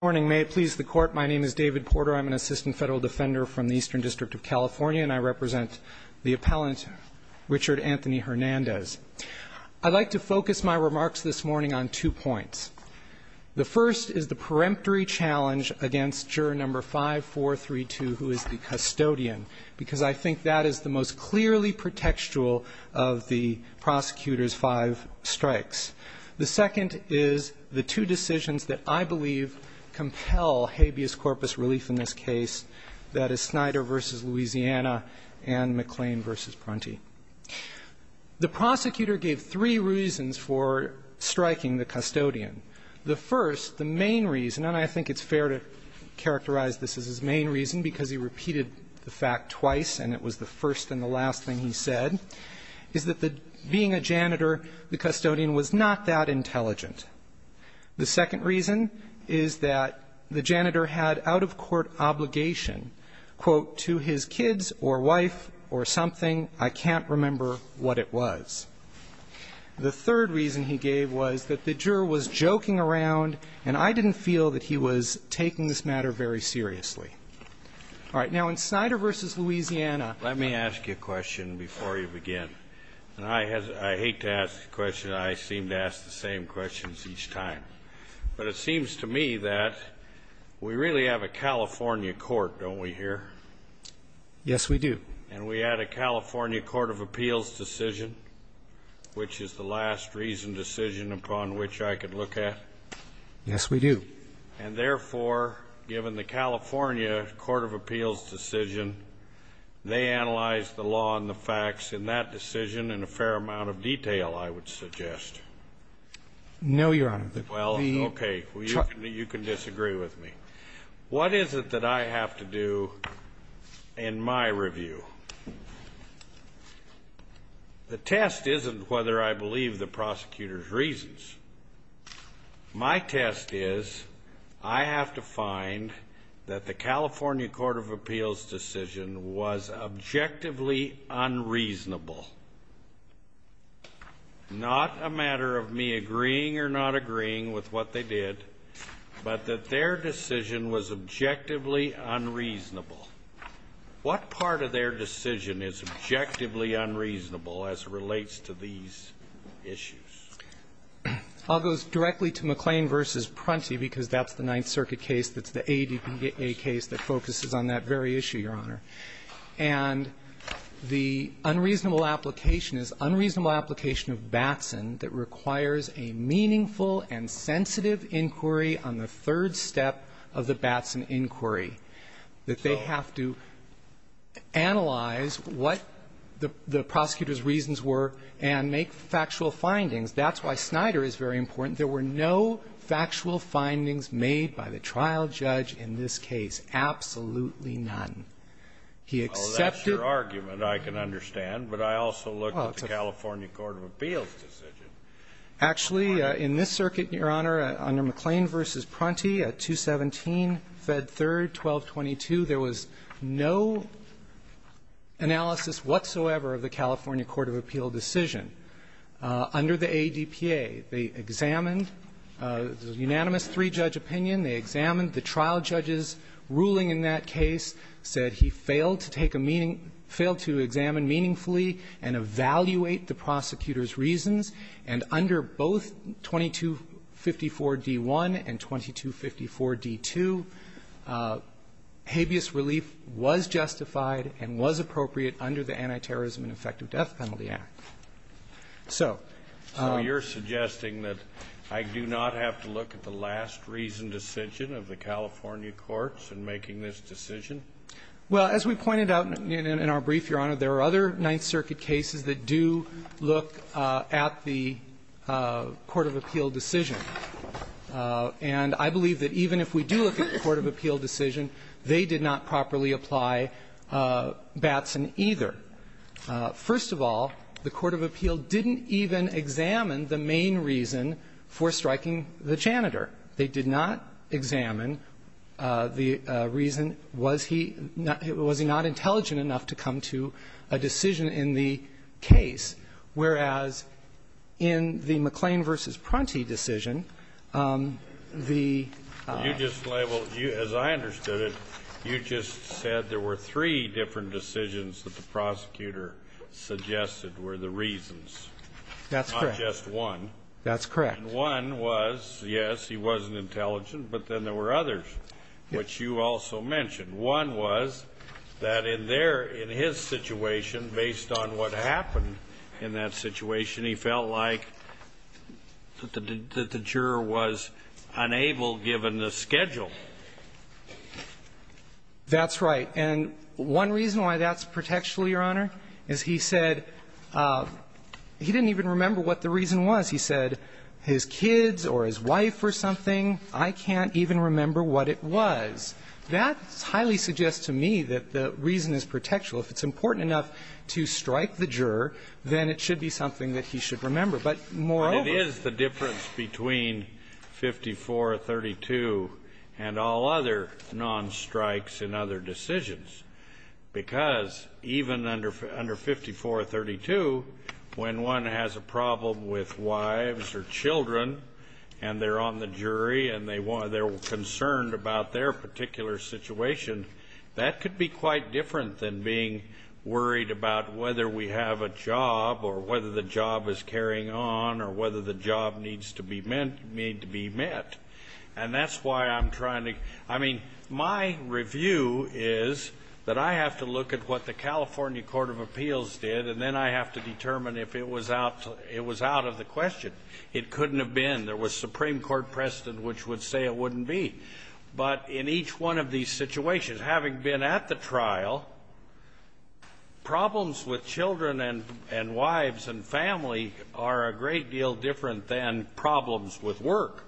Good morning. May it please the Court, my name is David Porter. I'm an Assistant Federal Defender from the Eastern District of California, and I represent the Appellant Richard Anthony Hernandez. I'd like to focus my remarks this morning on two points. The first is the peremptory challenge against Juror No. 5-432, who is the custodian, because I think that is the most clearly pretextual of the prosecutor's five strikes. The second is the two decisions that I believe compel habeas corpus relief in this case, that is Snyder v. Louisiana and McClain v. Prunty. The prosecutor gave three reasons for striking the custodian. The first, the main reason, and I think it's fair to characterize this as his main reason because he repeated the fact twice and it was the first and the last thing he said, is that being a janitor, the custodian was not that intelligent. The second reason is that the janitor had out-of-court obligation, quote, to his kids or wife or something, I can't remember what it was. The third reason he gave was that the juror was joking around, and I didn't feel that he was taking this matter very seriously. All right. Now, in Snyder v. Louisiana. Let me ask you a question before you begin. And I hate to ask a question. I seem to ask the same questions each time. But it seems to me that we really have a California court, don't we here? Yes, we do. And we had a California court of appeals decision, which is the last reason decision upon which I could look at. Yes, we do. And therefore, given the California court of appeals decision, they analyzed the law and the facts in that decision in a fair amount of detail, I would suggest. No, Your Honor. Well, okay. You can disagree with me. What is it that I have to do in my review? The test isn't whether I believe the prosecutor's reasons. My test is I have to find that the California court of appeals decision was objectively unreasonable, not a matter of me agreeing or not agreeing with what they did, but that their decision was objectively unreasonable. What part of their decision is objectively unreasonable as it relates to these issues? It all goes directly to McLean v. Prunty, because that's the Ninth Circuit case that's the ADPA case that focuses on that very issue, Your Honor. And the unreasonable application is unreasonable application of Batson that requires a meaningful and sensitive inquiry on the third step of the Batson inquiry. So they have to analyze what the prosecutor's reasons were and make factual findings. That's why Snyder is very important. There were no factual findings made by the trial judge in this case, absolutely none. He accepted the argument. I can understand, but I also looked at the California court of appeals decision. Actually, in this circuit, Your Honor, under McLean v. Prunty at 217, Fed Third, 1222, there was no analysis whatsoever of the California court of appeal decision. Under the ADPA, they examined the unanimous three-judge opinion. They examined the trial judge's ruling in that case, said he failed to take a meaning --"failed to examine meaningfully and evaluate the prosecutor's reasons." And under both 2254d-1 and 2254d-2, habeas relief was justified and was appropriate under the Anti-Terrorism and Effective Death Penalty Act. So you're suggesting that I do not have to look at the last reasoned decision of the California courts in making this decision? Well, as we pointed out in our brief, Your Honor, there are other Ninth Circuit cases that do look at the court of appeal decision. And I believe that even if we do look at the court of appeal decision, they did not properly apply Batson either. First of all, the court of appeal didn't even examine the main reason for striking the janitor. They did not examine the reason, was he not intelligent enough to come to a decision in the case, whereas in the McLean v. Pronti decision, the ---- You just labeled you as I understood it, you just said there were three different decisions that the prosecutor suggested were the reasons. That's correct. Not just one. That's correct. And one was, yes, he wasn't intelligent, but then there were others, which you also mentioned. One was that in their ---- in his situation, based on what happened in that situation, he felt like that the juror was unable, given the schedule. That's right. And one reason why that's protectional, Your Honor, is he said he didn't even remember what the reason was. He said his kids or his wife or something, I can't even remember what it was. That highly suggests to me that the reason is protectional. If it's important enough to strike the juror, then it should be something that he should remember. But moreover ---- But it is the difference between 5432 and all other non-strikes in other decisions, because even under 5432, when one has a problem with wives or children and they're on the jury and they're concerned about their particular situation, that could be quite different than being worried about whether we have a job or whether the job is carrying on or whether the job needs to be met. And that's why I'm trying to ---- I mean, my review is that I have to look at what the California Court of Appeals did, and then I have to determine if it was out of the question. It couldn't have been. There was Supreme Court precedent which would say it wouldn't be. But in each one of these situations, having been at the trial, problems with children and wives and family are a great deal different than problems with work.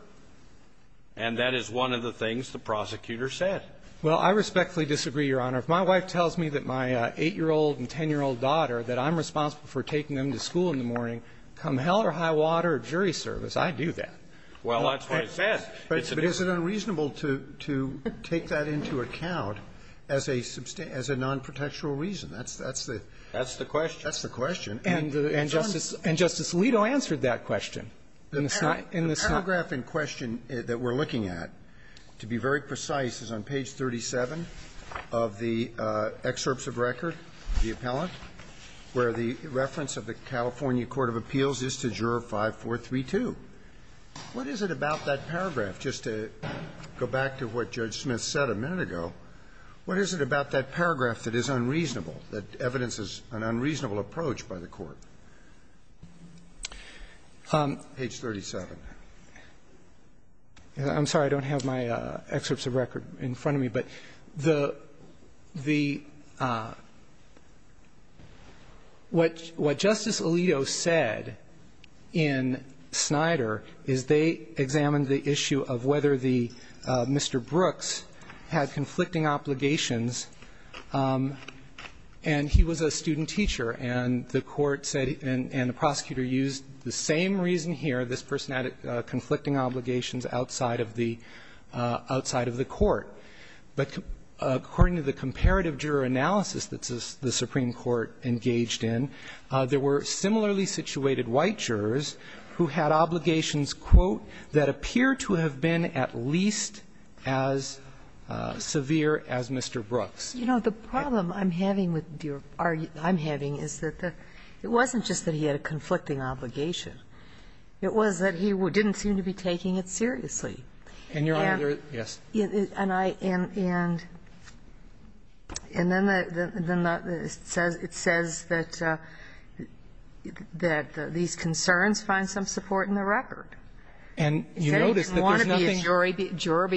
And that is one of the things the prosecutor said. Well, I respectfully disagree, Your Honor. If my wife tells me that my 8-year-old and 10-year-old daughter that I'm responsible for taking them to school in the morning, come hell or high water or jury service, I'd do that. Well, that's what it says. But is it unreasonable to take that into account as a nonprotectual reason? That's the question. That's the question. And Justice Alito answered that question in the Senate. The paragraph in question that we're looking at, to be very precise, is on page 37 of the excerpts of record, the appellant, where the reference of the California Court of Appeals is to Juror 5432. What is it about that paragraph? Just to go back to what Judge Smith said a minute ago, what is it about that paragraph that is unreasonable, that evidences an unreasonable approach by the Court? Page 37. I'm sorry. I don't have my excerpts of record in front of me. But the what Justice Alito said in Snyder is they examined the issue of whether the Mr. Brooks had conflicting obligations, and he was a student teacher, and the court said, and the prosecutor used the same reason here, this person had conflicting obligations outside of the court. But according to the comparative juror analysis that the Supreme Court engaged in, there were similarly situated white jurors who had obligations, quote, that appear to have been at least as severe as Mr. Brooks. You know, the problem I'm having with your argument, I'm having, is that it wasn't just that he had a conflicting obligation. It was that he didn't seem to be taking it seriously. And your honor, yes. And I am, and then it says that these concerns find some support in the record. And you notice that there's nothing. He said he didn't want to be a jury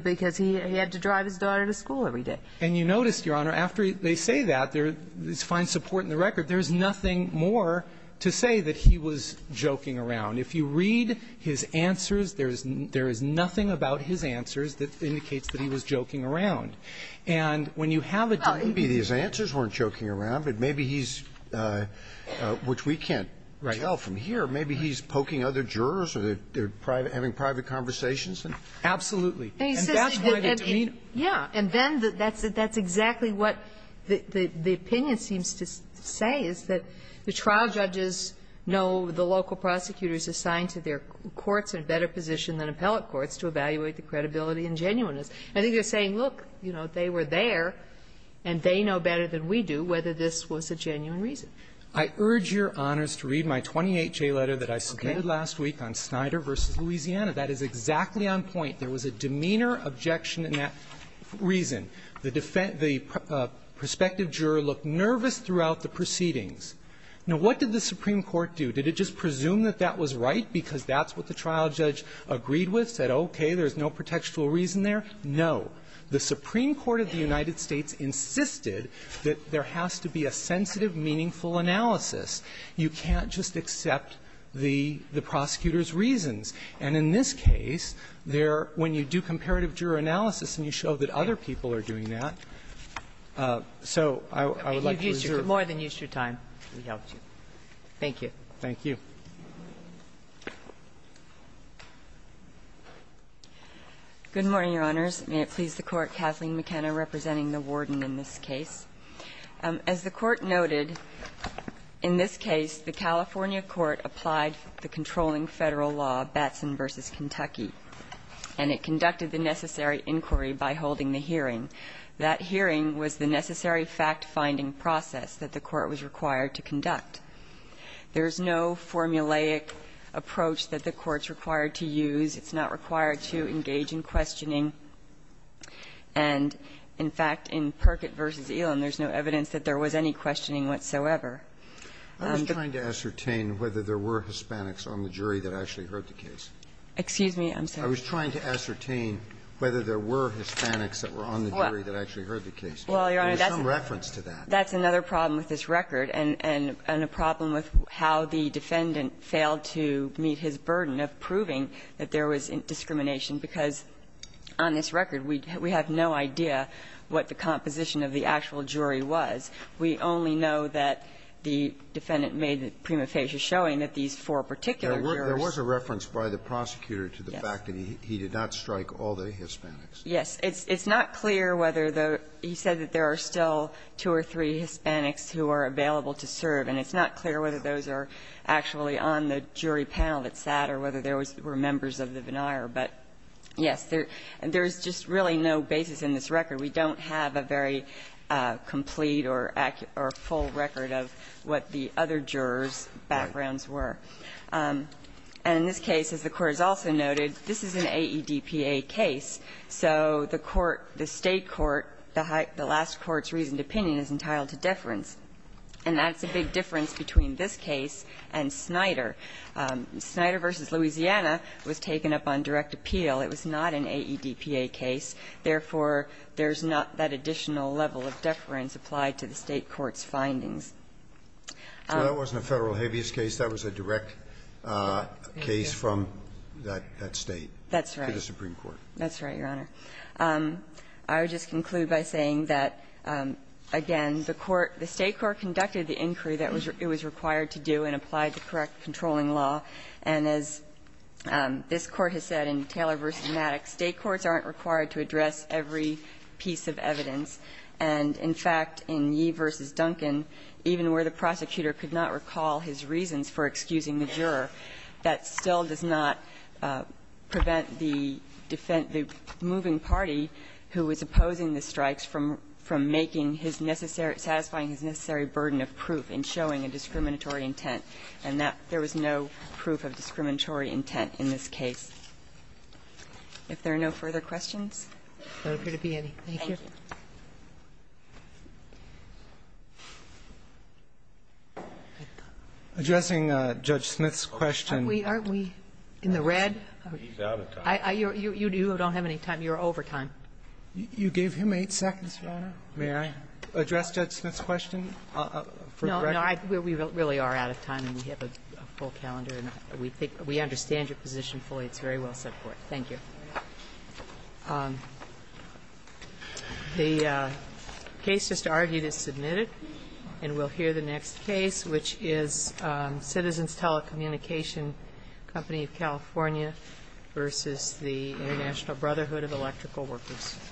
because he had to drive his daughter to school every day. And you notice, Your Honor, after they say that, they find support in the record, there's nothing more to say that he was joking around. If you read his answers, there is nothing about his answers that indicates that he was joking around. And when you have a debate here and there. Scalia, these answers weren't joking around, but maybe he's, which we can't tell from here, maybe he's poking other jurors or they're having private conversations. Absolutely. And that's why the demeanor. Yeah. And then that's exactly what the opinion seems to say, is that the trial judges know the local prosecutors assigned to their courts in a better position than appellate courts to evaluate the credibility and genuineness. I think they're saying, look, you know, they were there and they know better than we do whether this was a genuine reason. I urge Your Honors to read my 28-J letter that I submitted last week on Snyder v. Louisiana. That is exactly on point. There was a demeanor objection in that reason. The perspective juror looked nervous throughout the proceedings. Now, what did the Supreme Court do? Did it just presume that that was right because that's what the trial judge agreed with, said, okay, there's no protectual reason there? No. The Supreme Court of the United States insisted that there has to be a sensitive, meaningful analysis. You can't just accept the prosecutor's reasons. And in this case, there, when you do comparative juror analysis and you show that other people are doing that, so I would like to reserve. If you could more than use your time, we helped you. Thank you. Thank you. Good morning, Your Honors. May it please the Court. Kathleen McKenna representing the Warden in this case. As the Court noted, in this case, the California court applied the controlling Federal law, Batson v. Kentucky, and it conducted the necessary inquiry by holding the hearing. That hearing was the necessary fact-finding process that the Court was required to conduct. There is no formulaic approach that the Court's required to use. It's not required to engage in questioning. And, in fact, in Perkett v. Elam, there's no evidence that there was any questioning whatsoever. I was trying to ascertain whether there were Hispanics on the jury that actually heard the case. Excuse me. I was trying to ascertain whether there were Hispanics that were on the jury. Well, Your Honor, that's another problem with this record, and a problem with how the defendant failed to meet his burden of proving that there was discrimination, because on this record we have no idea what the composition of the actual jury was. We only know that the defendant made the prima facie showing that these four particular jurors. There was a reference by the prosecutor to the fact that he did not strike all the Hispanics. Yes. It's not clear whether the he said that there are still two or three Hispanics who are available to serve, and it's not clear whether those are actually on the jury panel that sat or whether there were members of the veneer. But, yes, there's just really no basis in this record. We don't have a very complete or full record of what the other jurors' backgrounds were. And in this case, as the Court has also noted, this is an AEDPA case. So the court, the State court, the last court's reasoned opinion is entitled to deference. And that's a big difference between this case and Snyder. Snyder v. Louisiana was taken up on direct appeal. It was not an AEDPA case. Therefore, there's not that additional level of deference applied to the State court's findings. So that wasn't a Federal habeas case. That was a direct case from that State. That's right. To the Supreme Court. That's right, Your Honor. I would just conclude by saying that, again, the court, the State court conducted the inquiry that it was required to do and applied the correct controlling law, and as this Court has said in Taylor v. Maddox, State courts aren't required to address every piece of evidence. And, in fact, in Yee v. Duncan, even where the prosecutor could not recall his reasons for excusing the juror, that still does not prevent the moving party who is opposing the strikes from making his necessary – satisfying his necessary burden of proof in showing a discriminatory intent. And there was no proof of discriminatory intent in this case. If there are no further questions? Thank you. Thank you. Addressing Judge Smith's question. Aren't we in the red? He's out of time. You don't have any time. You're over time. You gave him 8 seconds, Your Honor. May I address Judge Smith's question? No, no. We really are out of time, and we have a full calendar, and we think we understand your position fully. It's very well set forth. Thank you. The case just argued is submitted, and we'll hear the next case, which is Citizens Telecommunication Company of California v. the International Brotherhood of Electrical Workers.